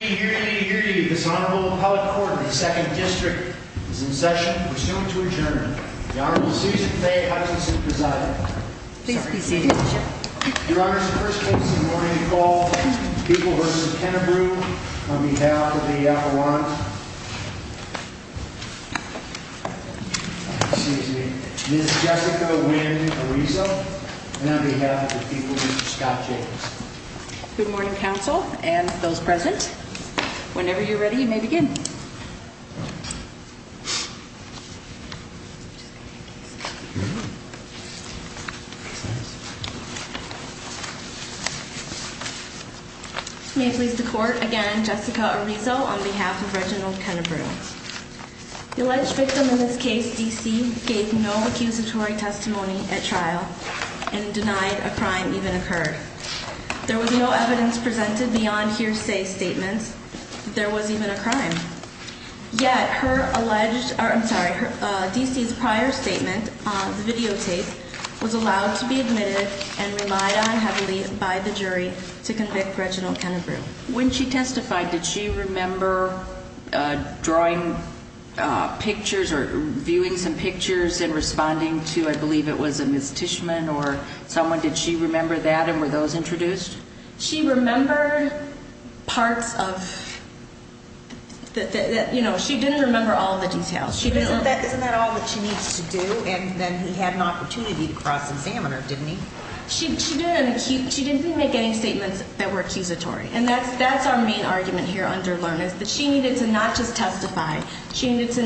This Honorable Appellate Court of the 2nd District is in session, pursuant to adjournment. The Honorable Susan Faye Hutchinson presiding. Please be seated. Your Honor, the first case of the morning is called People v. Kennebrew on behalf of the Appalachians. Excuse me, Ms. Jessica Wynn-Arizo and on behalf of the people, Mr. Scott Jacobs. Good morning, counsel and those present. Whenever you're ready, you may begin. May it please the Court, again, Jessica Arizo on behalf of Reginald Kennebrew. The alleged victim in this case, DC, gave no accusatory testimony at trial and denied a crime even occurred. There was no evidence presented beyond hearsay statements. There was even a crime. Yet, DC's prior statement, the videotape, was allowed to be admitted and relied on heavily by the jury to convict Reginald Kennebrew. When she testified, did she remember drawing pictures or viewing some pictures and responding to, I believe it was a mistichman or someone? Did she remember that and were those introduced? She remembered parts of, you know, she didn't remember all the details. Isn't that all that she needs to do? And then he had an opportunity to cross-examine her, didn't he? She didn't make any statements that were accusatory. And that's our main argument here under Learnez, that she needed to not just testify. She did say,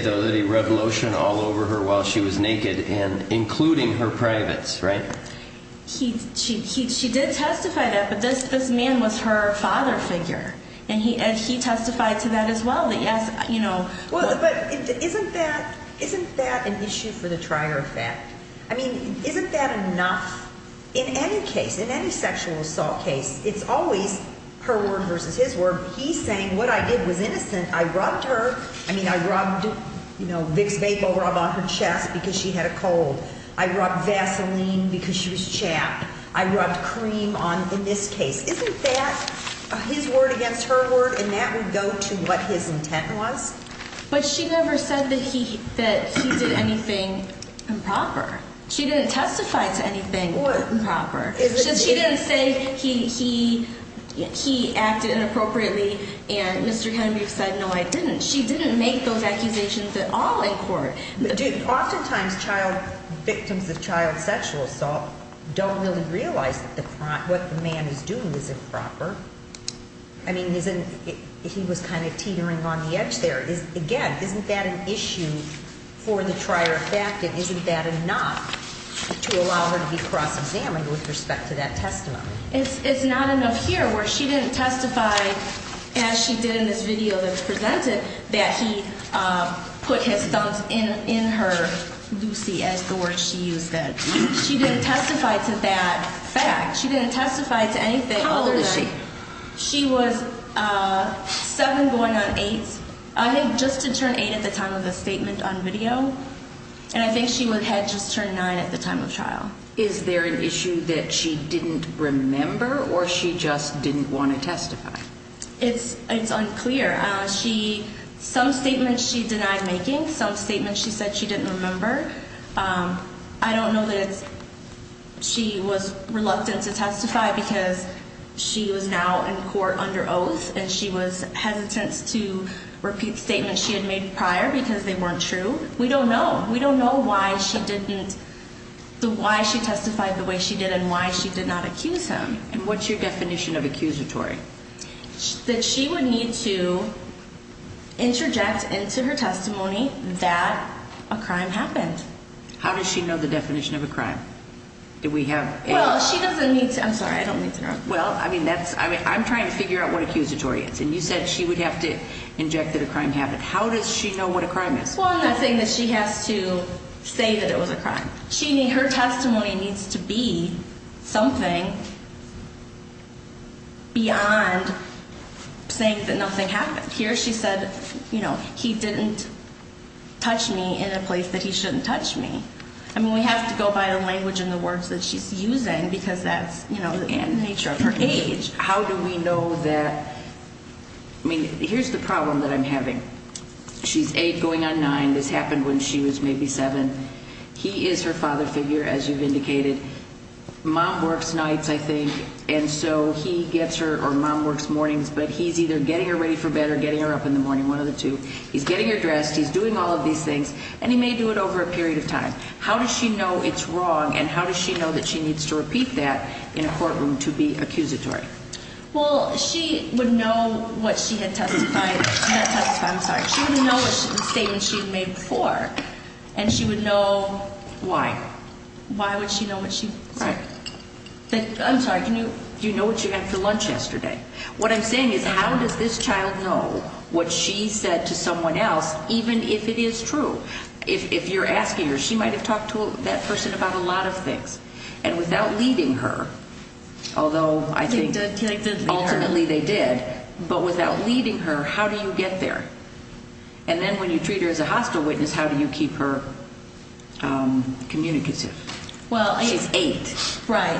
though, that he rubbed lotion all over her while she was naked, including her privates, right? She did testify to that, but this man was her father figure, and he testified to that as well. But isn't that an issue for the trier effect? I mean, isn't that enough? In any case, in any sexual assault case, it's always her word versus his word. He's saying what I did was innocent. I rubbed her. I mean, I rubbed, you know, Vicks VapoRub on her chest because she had a cold. I rubbed Vaseline because she was chapped. I rubbed cream on, in this case. Isn't that his word against her word? And that would go to what his intent was? But she never said that he did anything improper. She didn't testify to anything improper. She didn't say he acted inappropriately and Mr. Kennedy said, no, I didn't. She didn't make those accusations at all in court. Oftentimes, child victims of child sexual assault don't really realize that what the man is doing is improper. I mean, he was kind of teetering on the edge there. Again, isn't that an issue for the trier of fact? Isn't that enough to allow her to be cross-examined with respect to that testimony? It's not enough here where she didn't testify, as she did in this video that was presented, that he put his thumbs in her Lucy, as the word she used then. She didn't testify to that fact. She didn't testify to anything. How old is she? She was seven going on eight. I think just to turn eight at the time of the statement on video. And I think she had just turned nine at the time of trial. Is there an issue that she didn't remember or she just didn't want to testify? It's unclear. Some statements she denied making, some statements she said she didn't remember. I don't know that she was reluctant to testify because she was now in court under oath and she was hesitant to repeat statements she had made prior because they weren't true. We don't know. We don't know why she didn't, why she testified the way she did and why she did not accuse him. And what's your definition of accusatory? That she would need to interject into her testimony that a crime happened. How does she know the definition of a crime? Well, she doesn't need to. I'm sorry. I don't mean to interrupt. Well, I mean, I'm trying to figure out what accusatory is. And you said she would have to inject that a crime happened. How does she know what a crime is? Well, I'm not saying that she has to say that it was a crime. Her testimony needs to be something beyond saying that nothing happened. Here she said, you know, he didn't touch me in a place that he shouldn't touch me. I mean, we have to go by the language and the words that she's using because that's, you know, the nature of her age. How do we know that? I mean, here's the problem that I'm having. She's 8 going on 9. This happened when she was maybe 7. He is her father figure, as you've indicated. Mom works nights, I think. And so he gets her or mom works mornings. But he's either getting her ready for bed or getting her up in the morning, one of the two. He's getting her dressed. He's doing all of these things. And he may do it over a period of time. How does she know it's wrong? And how does she know that she needs to repeat that in a courtroom to be accusatory? Well, she would know what she had testified. Not testified. I'm sorry. She would know the statement she had made before, and she would know why. Why would she know what she said? Right. I'm sorry. Do you know what you had for lunch yesterday? What I'm saying is how does this child know what she said to someone else, even if it is true? If you're asking her, she might have talked to that person about a lot of things. And without leading her, although I think ultimately they did, but without leading her, how do you get there? And then when you treat her as a hostile witness, how do you keep her communicative? She's eight. Right.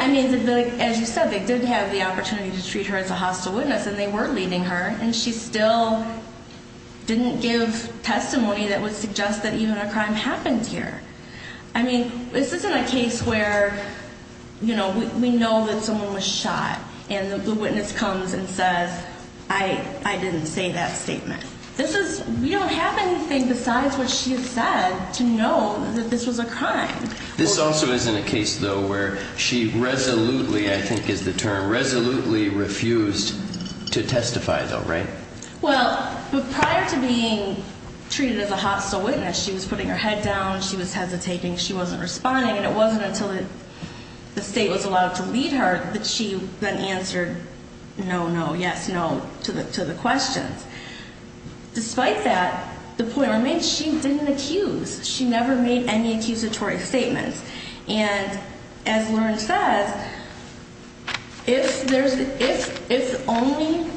I mean, as you said, they did have the opportunity to treat her as a hostile witness, and they were leading her, and she still didn't give testimony that would suggest that even a crime happened here. I mean, this isn't a case where, you know, we know that someone was shot, and the witness comes and says, I didn't say that statement. We don't have anything besides what she had said to know that this was a crime. This also isn't a case, though, where she resolutely, I think is the term, resolutely refused to testify, though, right? Well, prior to being treated as a hostile witness, she was putting her head down, she was hesitating, she wasn't responding, and it wasn't until the state was allowed to lead her that she then answered, no, no, yes, no, to the questions. Despite that, the point remains, she didn't accuse. She never made any accusatory statements. And as Lauren says, if the only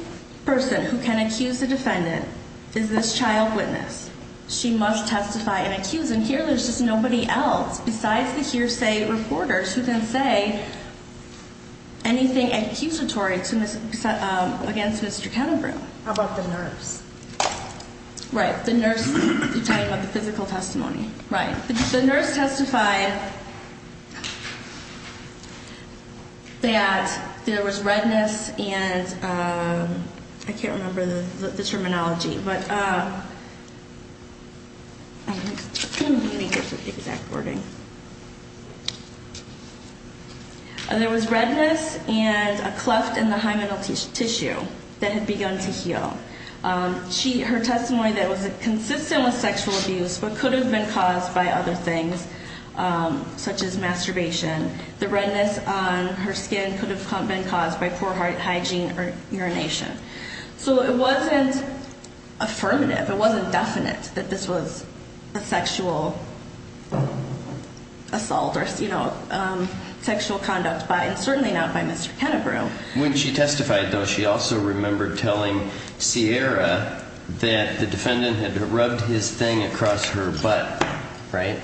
person who can accuse a defendant is this child witness, she must testify and accuse. And here there's just nobody else besides the hearsay reporters who can say anything accusatory against Mr. Kettenbrough. How about the nurse? Right, the nurse. You're talking about the physical testimony. Right. The nurse testified that there was redness and I can't remember the terminology, but I can't remember the exact wording. There was redness and a cleft in the hymenal tissue that had begun to heal. Her testimony that it was consistent with sexual abuse but could have been caused by other things, such as masturbation. The redness on her skin could have been caused by poor hygiene or urination. So it wasn't affirmative, it wasn't definite that this was a sexual assault or sexual conduct, and certainly not by Mr. Kettenbrough. When she testified, though, she also remembered telling Ciara that the defendant had rubbed his thing across her butt, right?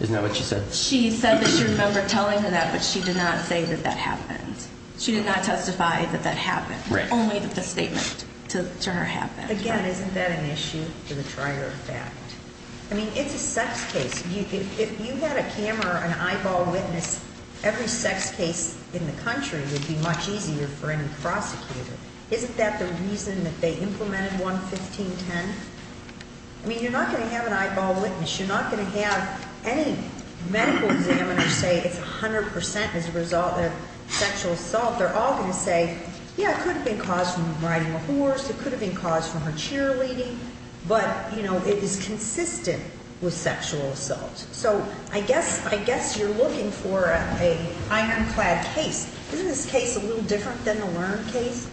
Isn't that what she said? She said that she remembered telling her that, but she did not say that that happened. She did not testify that that happened. Right. Only that the statement to her happened. Again, isn't that an issue to the trier of fact? I mean, it's a sex case. If you had a camera or an eyeball witness, every sex case in the country would be much easier for any prosecutor. Isn't that the reason that they implemented 11510? I mean, you're not going to have an eyeball witness. You're not going to have any medical examiners say it's 100% as a result of sexual assault. They're all going to say, yeah, it could have been caused from riding a horse. It could have been caused from her cheerleading. But, you know, it is consistent with sexual assault. So I guess you're looking for an ironclad case. Isn't this case a little different than the Lund case?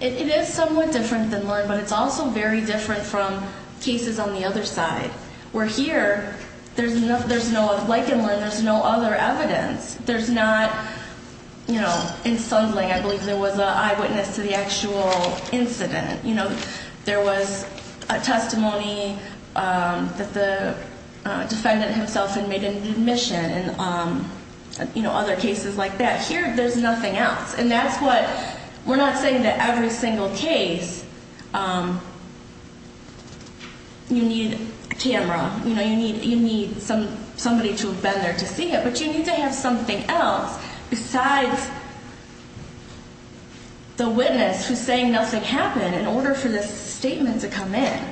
It is somewhat different than Lund, but it's also very different from cases on the other side. Where here, like in Lund, there's no other evidence. There's not, you know, in Sundling, I believe there was an eyewitness to the actual incident. You know, there was a testimony that the defendant himself had made in admission and, you know, other cases like that. Here, there's nothing else. And that's what we're not saying that every single case you need a camera. You know, you need somebody to have been there to see it. But you need to have something else besides the witness who's saying nothing happened in order for this statement to come in.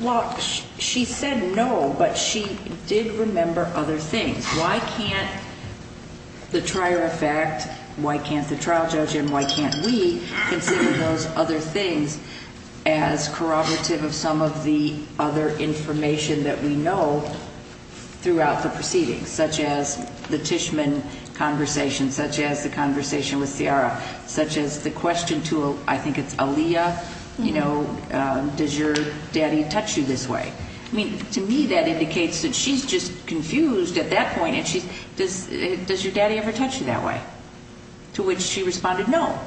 Well, she said no, but she did remember other things. Why can't the trier of fact, why can't the trial judge, and why can't we consider those other things as corroborative of some of the other information that we know throughout the proceedings? Such as the Tishman conversation, such as the conversation with Ciara, such as the question to, I think it's Aaliyah, you know, does your daddy touch you this way? I mean, to me, that indicates that she's just confused at that point. Does your daddy ever touch you that way? To which she responded no.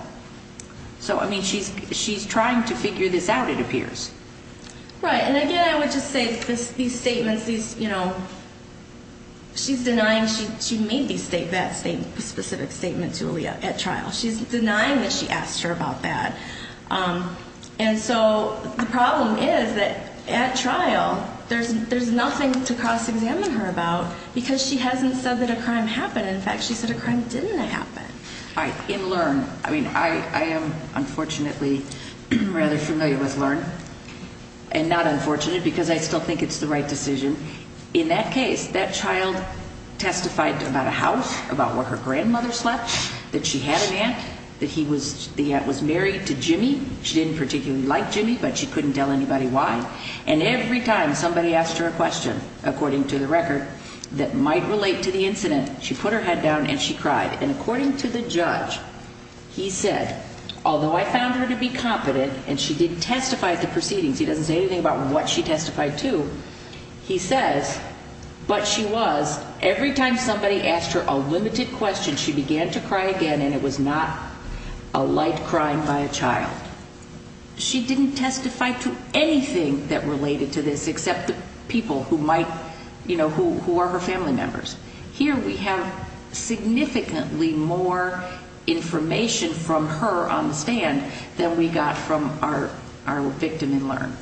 So, I mean, she's trying to figure this out, it appears. Right, and again, I would just say these statements, you know, she's denying she made that specific statement to Aaliyah at trial. She's denying that she asked her about that. And so the problem is that at trial, there's nothing to cross-examine her about because she hasn't said that a crime happened. In fact, she said a crime didn't happen. All right, in Learn, I mean, I am unfortunately rather familiar with Learn, and not unfortunate because I still think it's the right decision. In that case, that child testified about a house, about where her grandmother slept, that she had an aunt, that the aunt was married to Jimmy. She didn't particularly like Jimmy, but she couldn't tell anybody why. And every time somebody asked her a question, according to the record, that might relate to the incident, she put her head down and she cried. And according to the judge, he said, although I found her to be confident and she didn't testify at the proceedings, he doesn't say anything about what she testified to, he says, but she was, every time somebody asked her a limited question, she began to cry again and it was not a light crying by a child. She didn't testify to anything that related to this except the people who might, you know, who are her family members. Here we have significantly more information from her on the stand than we got from our victim in Learn.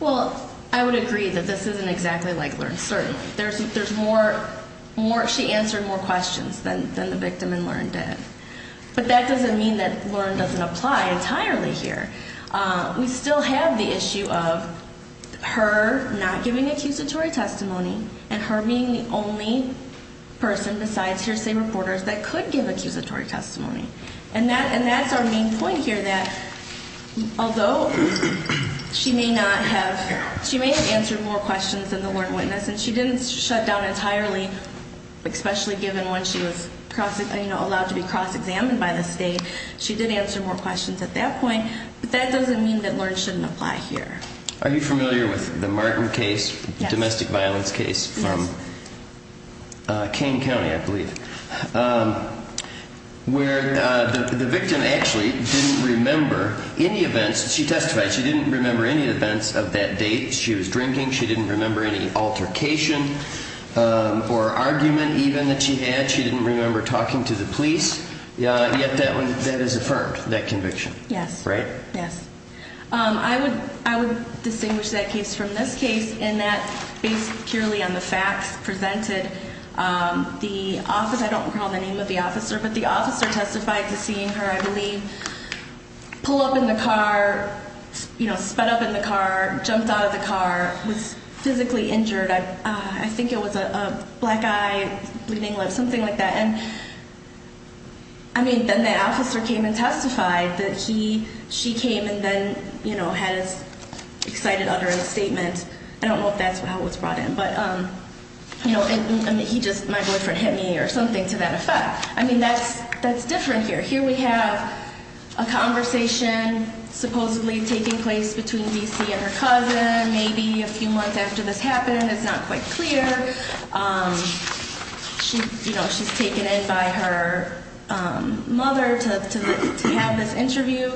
Well, I would agree that this isn't exactly like Learn, certainly. There's more, she answered more questions than the victim in Learn did. But that doesn't mean that Learn doesn't apply entirely here. We still have the issue of her not giving accusatory testimony and her being the only person besides hearsay reporters that could give accusatory testimony. And that's our main point here, that although she may not have, she may have answered more questions than the Learn witness, and she didn't shut down entirely, especially given when she was, you know, allowed to be cross-examined by the state. She did answer more questions at that point, but that doesn't mean that Learn shouldn't apply here. Are you familiar with the Martin case, domestic violence case from Kane County, I believe, where the victim actually didn't remember any events, she testified she didn't remember any events of that date. She was drinking, she didn't remember any altercation or argument even that she had. She didn't remember talking to the police, yet that is affirmed, that conviction. Yes. Right? Yes. I would distinguish that case from this case in that based purely on the facts presented, the officer, I don't recall the name of the officer, but the officer testified to seeing her, I believe, pull up in the car, you know, sped up in the car, jumped out of the car, was physically injured. I think it was a black eye, bleeding lip, something like that. And, I mean, then the officer came and testified that he, she came and then, you know, had his excited utterance statement. I don't know if that's how it was brought in, but, you know, he just, my boyfriend hit me or something to that effect. I mean, that's different here. Here we have a conversation supposedly taking place between D.C. and her cousin, maybe a few months after this happened. It's not quite clear. She, you know, she's taken in by her mother to have this interview.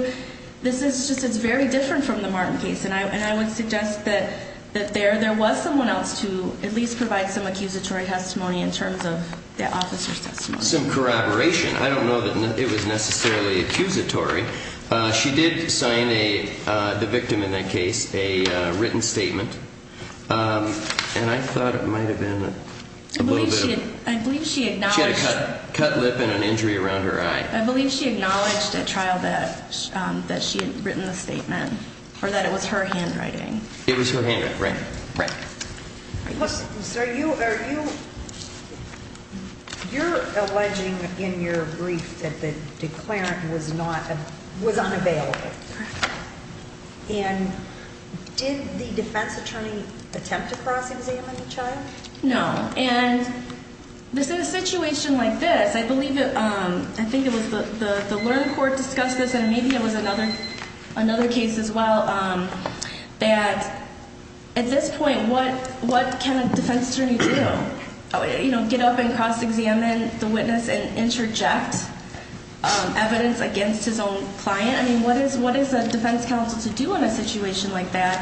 This is just, it's very different from the Martin case, and I would suggest that there was someone else to at least provide some accusatory testimony in terms of the officer's testimony. Some corroboration. I don't know that it was necessarily accusatory. She did sign a, the victim in that case, a written statement, and I thought it might have been a little bit of... I believe she acknowledged... She had a cut lip and an injury around her eye. I believe she acknowledged at trial that she had written the statement, or that it was her handwriting. It was her handwriting, right, right. Are you, are you, you're alleging in your brief that the declarant was not, was unavailable. And did the defense attorney attempt to cross-examine the child? No, and this is a situation like this. I believe, I think it was the learned court discussed this, and maybe it was another case as well, that at this point, what can a defense attorney do? You know, get up and cross-examine the witness and interject evidence against his own client? I mean, what is a defense counsel to do in a situation like that?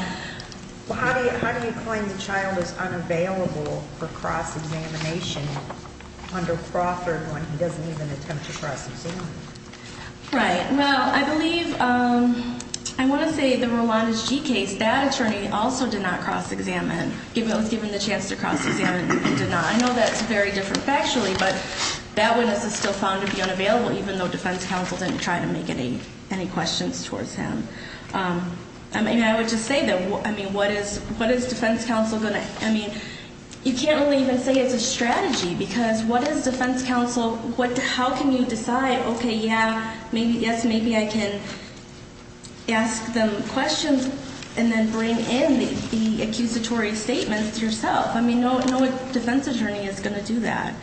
Well, how do you claim the child is unavailable for cross-examination under Crawford when he doesn't even attempt to cross-examine? Right, well, I believe, I want to say the Rolandes G case, that attorney also did not cross-examine, given the chance to cross-examine, did not. I know that's very different factually, but that witness is still found to be unavailable, even though defense counsel didn't try to make any questions towards him. I mean, I would just say that, I mean, what is defense counsel going to, I mean, you can't really even say it's a strategy, because what is defense counsel, how can you decide, okay, yeah, maybe, yes, maybe I can ask them questions, and then bring in the accusatory statement yourself? I mean, no defense attorney is going to do that.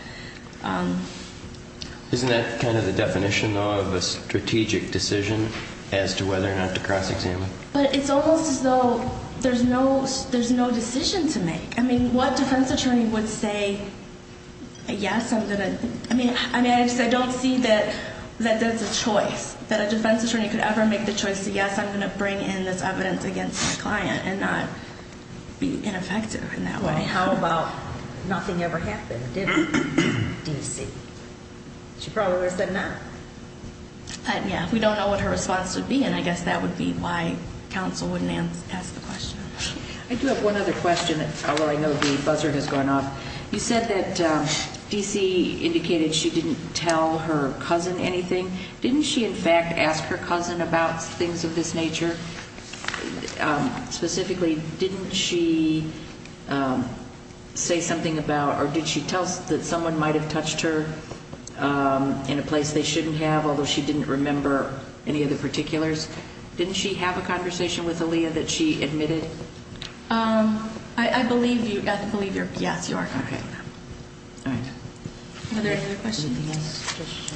Isn't that kind of the definition of a strategic decision as to whether or not to cross-examine? But it's almost as though there's no decision to make. I mean, what defense attorney would say, yes, I'm going to, I mean, I just don't see that that's a choice, that a defense attorney could ever make the choice to, yes, I'm going to bring in this evidence against my client and not be ineffective in that way. And how about, nothing ever happened, did it, D.C.? She probably would have said no. But, yeah, we don't know what her response would be, and I guess that would be why counsel wouldn't ask a question. I do have one other question, although I know the buzzer has gone off. You said that D.C. indicated she didn't tell her cousin anything. Didn't she, in fact, ask her cousin about things of this nature? Specifically, didn't she say something about, or did she tell that someone might have touched her in a place they shouldn't have, although she didn't remember any of the particulars? Didn't she have a conversation with Aaliyah that she admitted? I believe you, yes, you are correct. All right. Are there other questions?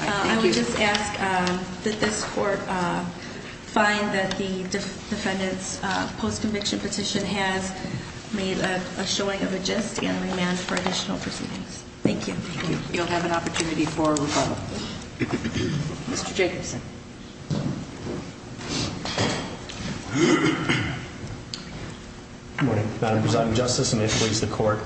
I would just ask that this court find that the defendant's post-conviction petition has made a showing of a gist and remand for additional proceedings. Thank you. You'll have an opportunity for rebuttal. Mr. Jacobson. Good morning, Madam Presiding Justice, and may it please the court.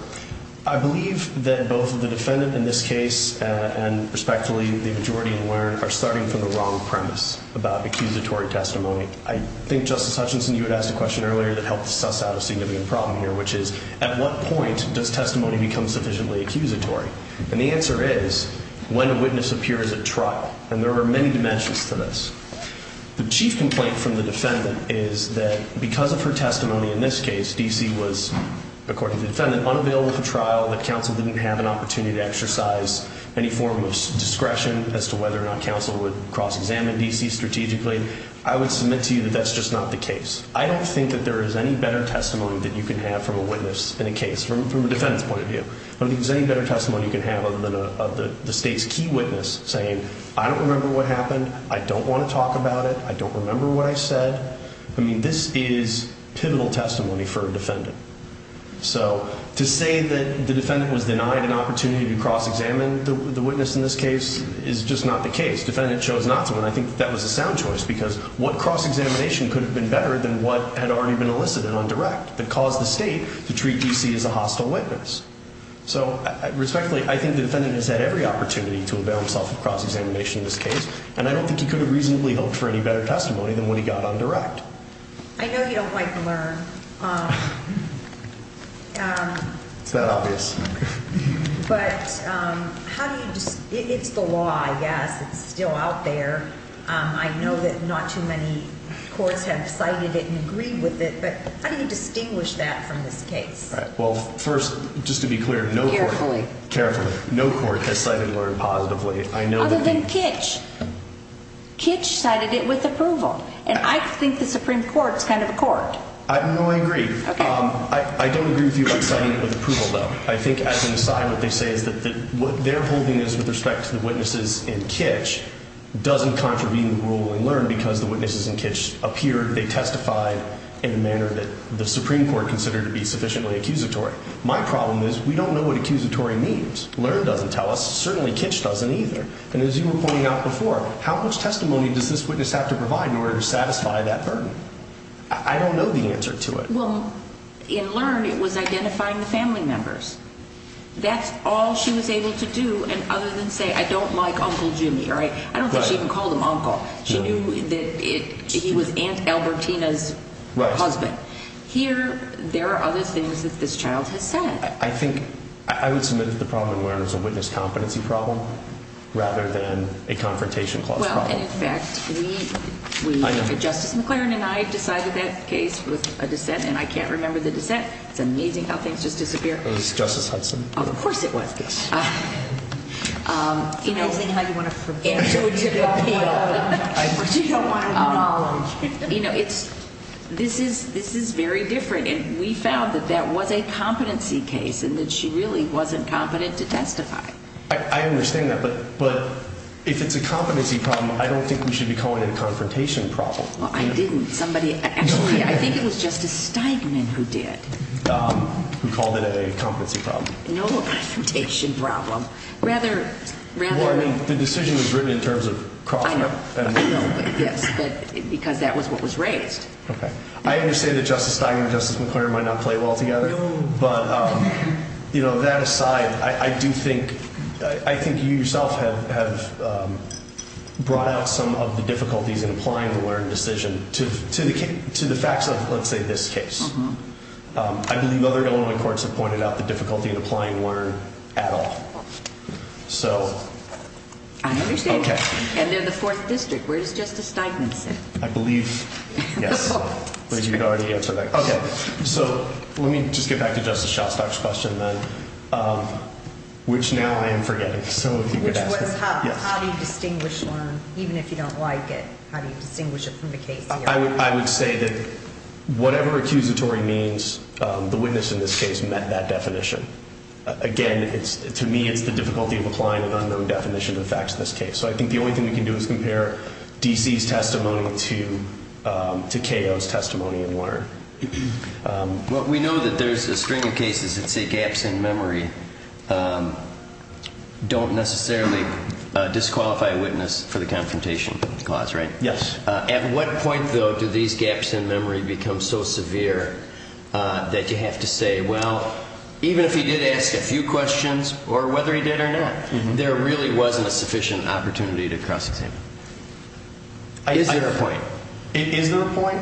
I believe that both the defendant in this case and, respectfully, the majority in Warren are starting from the wrong premise about accusatory testimony. I think, Justice Hutchinson, you had asked a question earlier that helped suss out a significant problem here, which is at what point does testimony become sufficiently accusatory? And the answer is when a witness appears at trial, and there are many dimensions to this. The chief complaint from the defendant is that because of her testimony in this case, D.C. was, according to the defendant, unavailable for trial, that counsel didn't have an opportunity to exercise any form of discretion as to whether or not counsel would cross-examine D.C. strategically. I would submit to you that that's just not the case. I don't think that there is any better testimony that you can have from a witness in a case from a defendant's point of view. I don't think there's any better testimony you can have other than the state's key witness saying, I don't remember what happened, I don't want to talk about it, I don't remember what I said. I mean, this is pivotal testimony for a defendant. So to say that the defendant was denied an opportunity to cross-examine the witness in this case is just not the case. The defendant chose not to, and I think that was a sound choice because what cross-examination could have been better than what had already been elicited on direct that caused the state to treat D.C. as a hostile witness. So, respectfully, I think the defendant has had every opportunity to avail himself of cross-examination in this case, and I don't think he could have reasonably hoped for any better testimony than what he got on direct. I know you don't like to learn. It's not obvious. But how do you – it's the law, I guess. It's still out there. I know that not too many courts have cited it and agreed with it, but how do you distinguish that from this case? Well, first, just to be clear, no court – Carefully. Carefully. No court has cited learn positively. Other than Kitch. Kitch cited it with approval, and I think the Supreme Court is kind of a court. No, I agree. I don't agree with you about citing it with approval, though. I think as an aside, what they say is that what they're holding is with respect to the witnesses in Kitch doesn't contravene the rule in learn because the witnesses in Kitch appeared – they testified in a manner that the Supreme Court considered to be sufficiently accusatory. My problem is we don't know what accusatory means. Learn doesn't tell us. Certainly, Kitch doesn't either. And as you were pointing out before, how much testimony does this witness have to provide in order to satisfy that burden? I don't know the answer to it. Well, in learn, it was identifying the family members. That's all she was able to do other than say, I don't like Uncle Jimmy. I don't think she even called him uncle. She knew that he was Aunt Albertina's husband. Here, there are other things that this child has said. I think – I would submit that the problem in learn is a witness competency problem rather than a confrontation clause problem. Well, and in fact, we – Justice McClaren and I decided that case with a dissent, and I can't remember the dissent. It's amazing how things just disappear. It was Justice Hudson. Of course it was. Yes. You know – It's amazing how you want to forget. You don't want to – you know, it's – this is very different. And we found that that was a competency case and that she really wasn't competent to testify. I understand that. But if it's a competency problem, I don't think we should be calling it a confrontation problem. Well, I didn't. Somebody – actually, I think it was Justice Steigman who did. Who called it a competency problem. No, a confrontation problem. Rather – rather – Well, I mean, the decision was written in terms of Crawford. I know. Yes, but – because that was what was raised. Okay. I understand that Justice Steigman and Justice McClaren might not play well together. No. But, you know, that aside, I do think – I think you yourself have brought out some of the difficulties in applying the Learn decision to the facts of, let's say, this case. I believe other Illinois courts have pointed out the difficulty in applying Learn at all. So – I understand. Okay. And they're the Fourth District. Where does Justice Steigman sit? I believe – yes. But you could already answer that question. Okay. So let me just get back to Justice Shostak's question then, which now I am forgetting. So if you could ask it. Which was how do you distinguish Learn, even if you don't like it? How do you distinguish it from the case here? I would say that whatever accusatory means, the witness in this case met that definition. Again, to me, it's the difficulty of applying an unknown definition to the facts of this case. So I think the only thing we can do is compare D.C.'s testimony to K.O.'s testimony in Learn. Well, we know that there's a string of cases that say gaps in memory don't necessarily disqualify a witness for the confrontation clause, right? Yes. At what point, though, do these gaps in memory become so severe that you have to say, well, even if he did ask a few questions, or whether he did or not, there really wasn't a sufficient opportunity to cross-examine? Is there a point? Is there a point?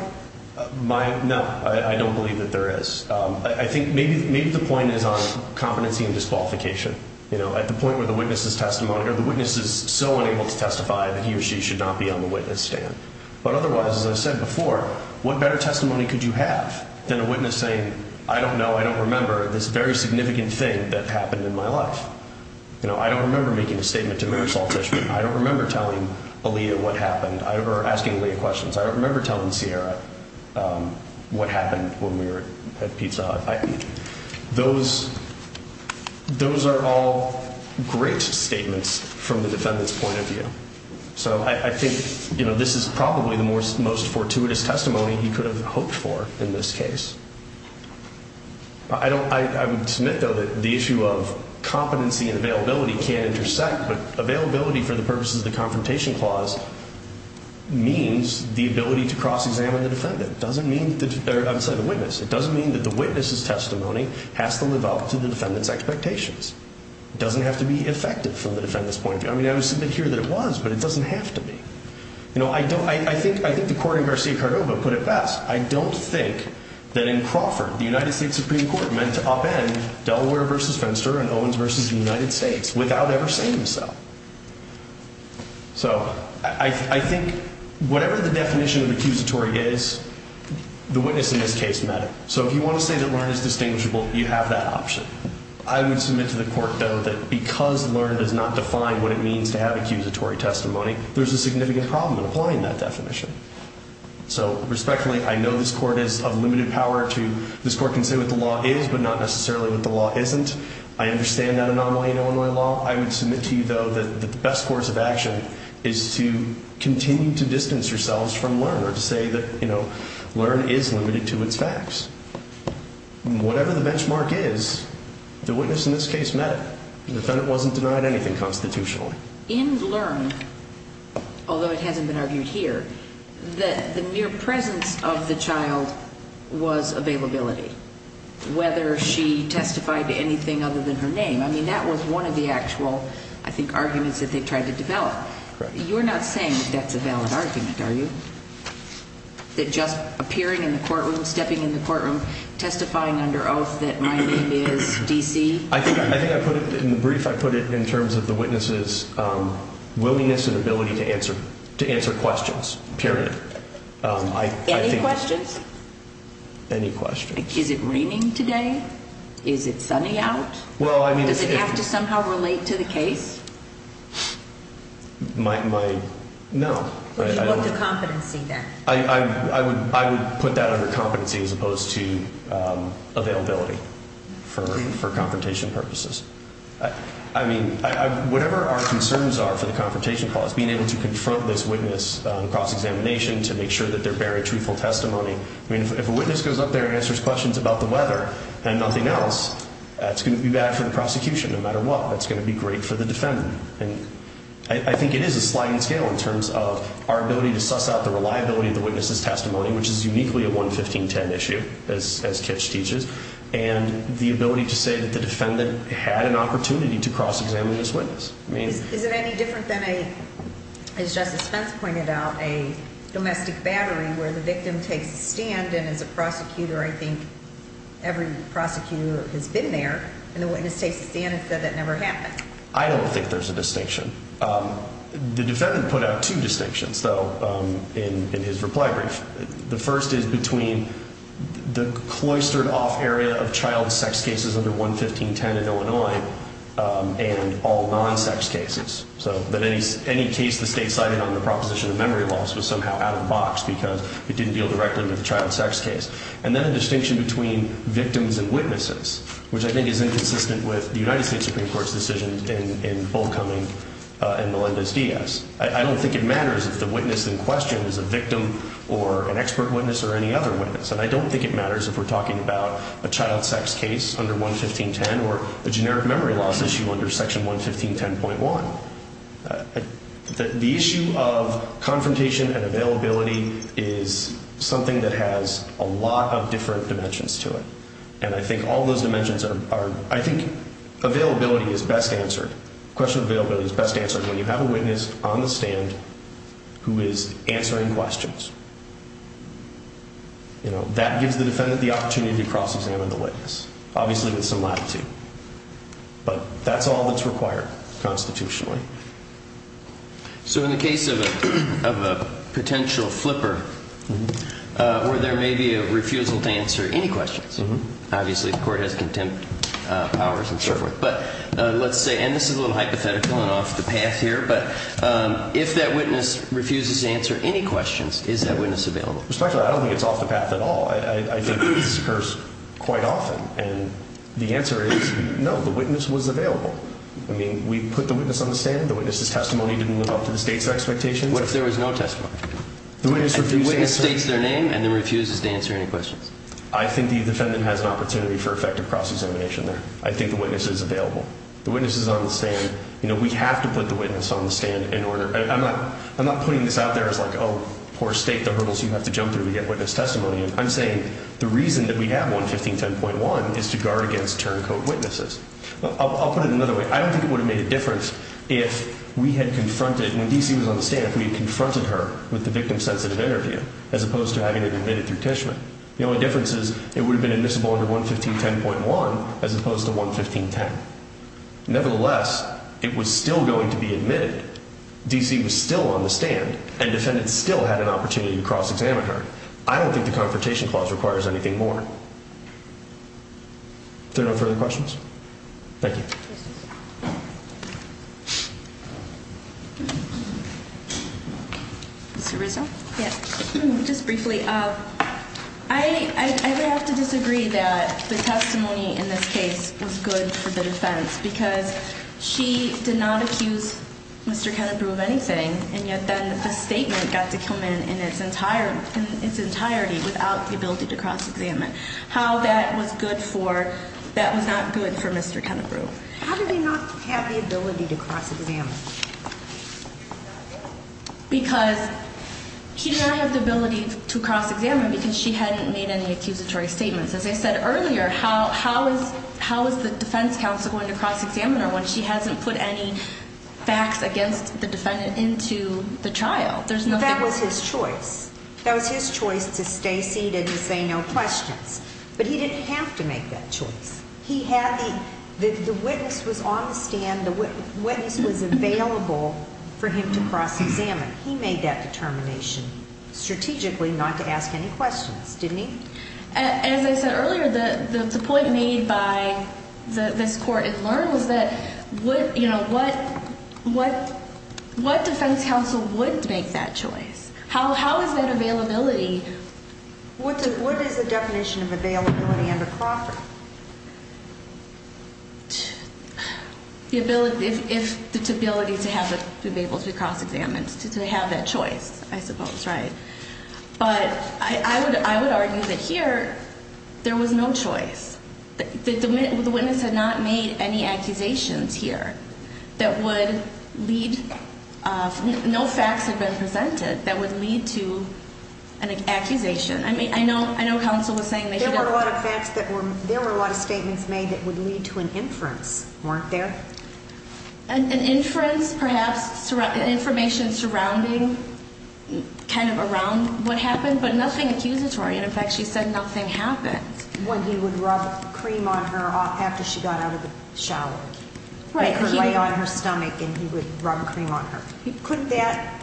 No, I don't believe that there is. I think maybe the point is on competency and disqualification. At the point where the witness is so unable to testify that he or she should not be on the witness stand. But otherwise, as I said before, what better testimony could you have than a witness saying, I don't know, I don't remember this very significant thing that happened in my life? You know, I don't remember making a statement to Mary Saltish. I don't remember telling Aaliyah what happened, or asking Aaliyah questions. I don't remember telling Ciara what happened when we were at Pizza Hut. Those are all great statements from the defendant's point of view. So I think this is probably the most fortuitous testimony he could have hoped for in this case. I would submit, though, that the issue of competency and availability can intersect, but availability for the purposes of the Confrontation Clause means the ability to cross-examine the witness. It doesn't mean that the witness's testimony has to live up to the defendant's expectations. It doesn't have to be effective from the defendant's point of view. I mean, I would submit here that it was, but it doesn't have to be. You know, I think the court in Garcia-Cardova put it best. I don't think that in Crawford, the United States Supreme Court meant to upend Delaware v. Fenster and Owens v. United States without ever saying so. So I think whatever the definition of accusatory is, the witness in this case met it. So if you want to say that Lerner is distinguishable, you have that option. I would submit to the court, though, that because Lerner does not define what it means to have accusatory testimony, so respectfully, I know this court is of limited power to, this court can say what the law is, but not necessarily what the law isn't. I understand that anomaly in Illinois law. I would submit to you, though, that the best course of action is to continue to distance yourselves from Lerner, to say that, you know, Lerner is limited to its facts. Whatever the benchmark is, the witness in this case met it. The defendant wasn't denied anything constitutionally. In Lerner, although it hasn't been argued here, the mere presence of the child was availability, whether she testified to anything other than her name. I mean, that was one of the actual, I think, arguments that they tried to develop. You're not saying that's a valid argument, are you? That just appearing in the courtroom, stepping in the courtroom, testifying under oath that my name is D.C. In the brief, I put it in terms of the witness's willingness and ability to answer questions, period. Any questions? Any questions. Is it raining today? Is it sunny out? Does it have to somehow relate to the case? My, no. What's the competency then? I would put that under competency as opposed to availability for confrontation purposes. I mean, whatever our concerns are for the confrontation clause, being able to confront this witness on cross-examination to make sure that they're bearing truthful testimony. I mean, if a witness goes up there and answers questions about the weather and nothing else, that's going to be bad for the prosecution no matter what. That's going to be great for the defendant. I think it is a sliding scale in terms of our ability to suss out the reliability of the witness's testimony, which is uniquely a 11510 issue, as Kitch teaches, and the ability to say that the defendant had an opportunity to cross-examine this witness. Is it any different than a, as Justice Spence pointed out, a domestic battery where the victim takes a stand, and as a prosecutor, I think every prosecutor has been there, and the witness takes a stand and said that never happened. I don't think there's a distinction. The defendant put out two distinctions, though, in his reply brief. The first is between the cloistered-off area of child sex cases under 11510 in Illinois and all non-sex cases, so that any case the state cited under the proposition of memory loss was somehow out of the box because it didn't deal directly with the child sex case. And then a distinction between victims and witnesses, which I think is inconsistent with the United States Supreme Court's decision in both Cumming and Melendez-Diaz. I don't think it matters if the witness in question is a victim or an expert witness or any other witness, and I don't think it matters if we're talking about a child sex case under 11510 or a generic memory loss issue under Section 11510.1. The issue of confrontation and availability is something that has a lot of different dimensions to it, and I think all those dimensions are—I think availability is best answered. The question of availability is best answered when you have a witness on the stand who is answering questions. You know, that gives the defendant the opportunity to cross-examine the witness, obviously with some latitude, but that's all that's required constitutionally. So in the case of a potential flipper where there may be a refusal to answer any questions, obviously the court has contempt powers and so forth, but let's say—and this is a little hypothetical and off the path here, but if that witness refuses to answer any questions, is that witness available? Respectfully, I don't think it's off the path at all. I think this occurs quite often, and the answer is no, the witness was available. I mean, we put the witness on the stand. The witness's testimony didn't live up to the state's expectations. What if there was no testimony? If the witness states their name and then refuses to answer any questions? I think the defendant has an opportunity for effective cross-examination there. I think the witness is available. The witness is on the stand. You know, we have to put the witness on the stand in order—I'm not putting this out there as like, oh, poor state, the hurdles you have to jump through to get witness testimony in. I'm saying the reason that we have 11510.1 is to guard against turncoat witnesses. I'll put it another way. I don't think it would have made a difference if we had confronted—when D.C. was on the stand, if we had confronted her with the victim-sensitive interview as opposed to having it admitted through Tishman. The only difference is it would have been admissible under 11510.1 as opposed to 11510. Nevertheless, it was still going to be admitted. D.C. was still on the stand, and defendants still had an opportunity to cross-examine her. I don't think the Confrontation Clause requires anything more. Is there no further questions? Thank you. Mr. Rizzo? Yes. Just briefly, I would have to disagree that the testimony in this case was good for the defense because she did not accuse Mr. Kennebrew of anything, and yet then the statement got to come in in its entirety without the ability to cross-examine. How that was good for—that was not good for Mr. Kennebrew. How did he not have the ability to cross-examine? Because he did not have the ability to cross-examine because she hadn't made any accusatory statements. As I said earlier, how is the defense counsel going to cross-examine her when she hasn't put any facts against the defendant into the trial? That was his choice. That was his choice to stay seated and say no questions. But he didn't have to make that choice. The witness was on the stand. The witness was available for him to cross-examine. He made that determination strategically not to ask any questions, didn't he? As I said earlier, the point made by this court in Learn was that what defense counsel would make that choice? How is that availability— What is the definition of availability under Crawford? The ability to be able to cross-examine, to have that choice, I suppose, right? But I would argue that here there was no choice. The witness had not made any accusations here that would lead— no facts had been presented that would lead to an accusation. I mean, I know counsel was saying they should have— There were a lot of facts that were— There were a lot of statements made that would lead to an inference, weren't there? An inference, perhaps, information surrounding kind of around what happened, but nothing accusatory. In fact, she said nothing happened. When he would rub cream on her after she got out of the shower. Right. He would lay on her stomach and he would rub cream on her. Couldn't that,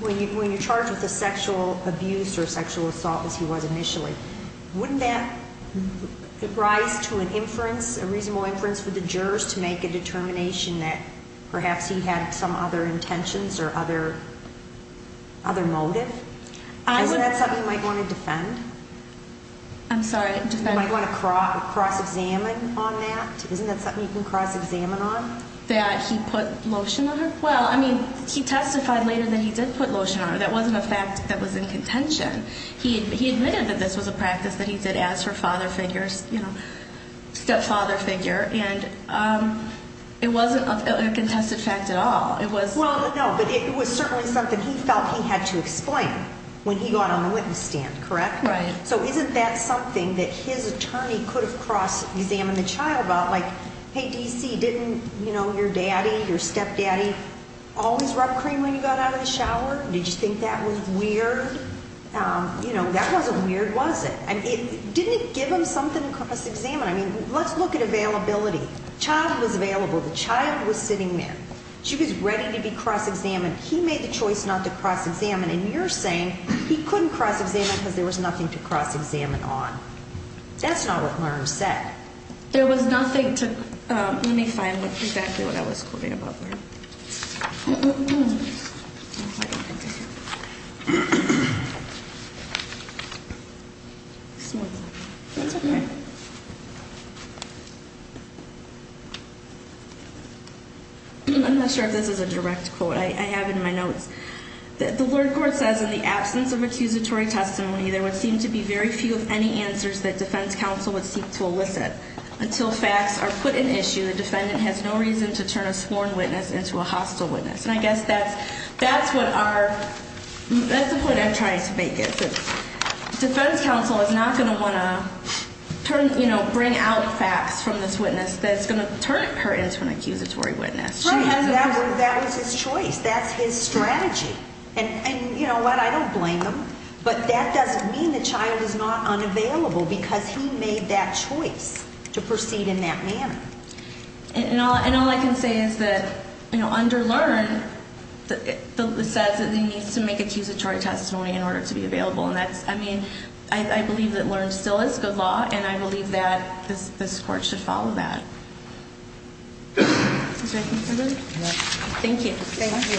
when you're charged with a sexual abuse or sexual assault, as he was initially, wouldn't that rise to an inference, a reasonable inference for the jurors to make a determination that perhaps he had some other intentions or other motive? I would— Isn't that something you might want to defend? I'm sorry, defend— You might want to cross-examine on that? Isn't that something you can cross-examine on? That he put lotion on her? Well, I mean, he testified later that he did put lotion on her. That wasn't a fact that was in contention. He admitted that this was a practice that he did as her father figure, you know, stepfather figure, and it wasn't a contested fact at all. It was— Well, no, but it was certainly something he felt he had to explain when he got on the witness stand, correct? Right. So isn't that something that his attorney could have cross-examined the child about? Like, hey, D.C., didn't, you know, your daddy, your stepdaddy, always rub cream when you got out of the shower? Did you think that was weird? You know, that wasn't weird, was it? I mean, didn't it give him something to cross-examine? I mean, let's look at availability. Child was available. The child was sitting there. She was ready to be cross-examined. He made the choice not to cross-examine, and you're saying he couldn't cross-examine because there was nothing to cross-examine on. That's not what Learn said. There was nothing to—let me find exactly what I was quoting about Learn. I'm not sure if this is a direct quote. I have it in my notes. The Lord Court says, And I guess that's what our—that's the point I'm trying to make is that defense counsel is not going to want to, you know, bring out facts from this witness that's going to turn her into an accusatory witness. That was his choice. That's his strategy. And you know what? I don't blame him, but that doesn't mean the child is not unavailable because he made that choice to proceed in that manner. And all I can say is that, you know, under Learn, it says that he needs to make accusatory testimony in order to be available, and that's—I mean, I believe that Learn still is good law, and I believe that this Court should follow that. Thank you. Thank you.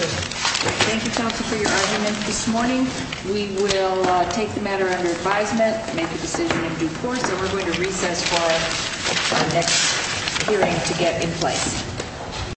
Thank you, counsel, for your argument this morning. We will take the matter under advisement, make a decision in due course, and we're going to recess for our next hearing to get in place.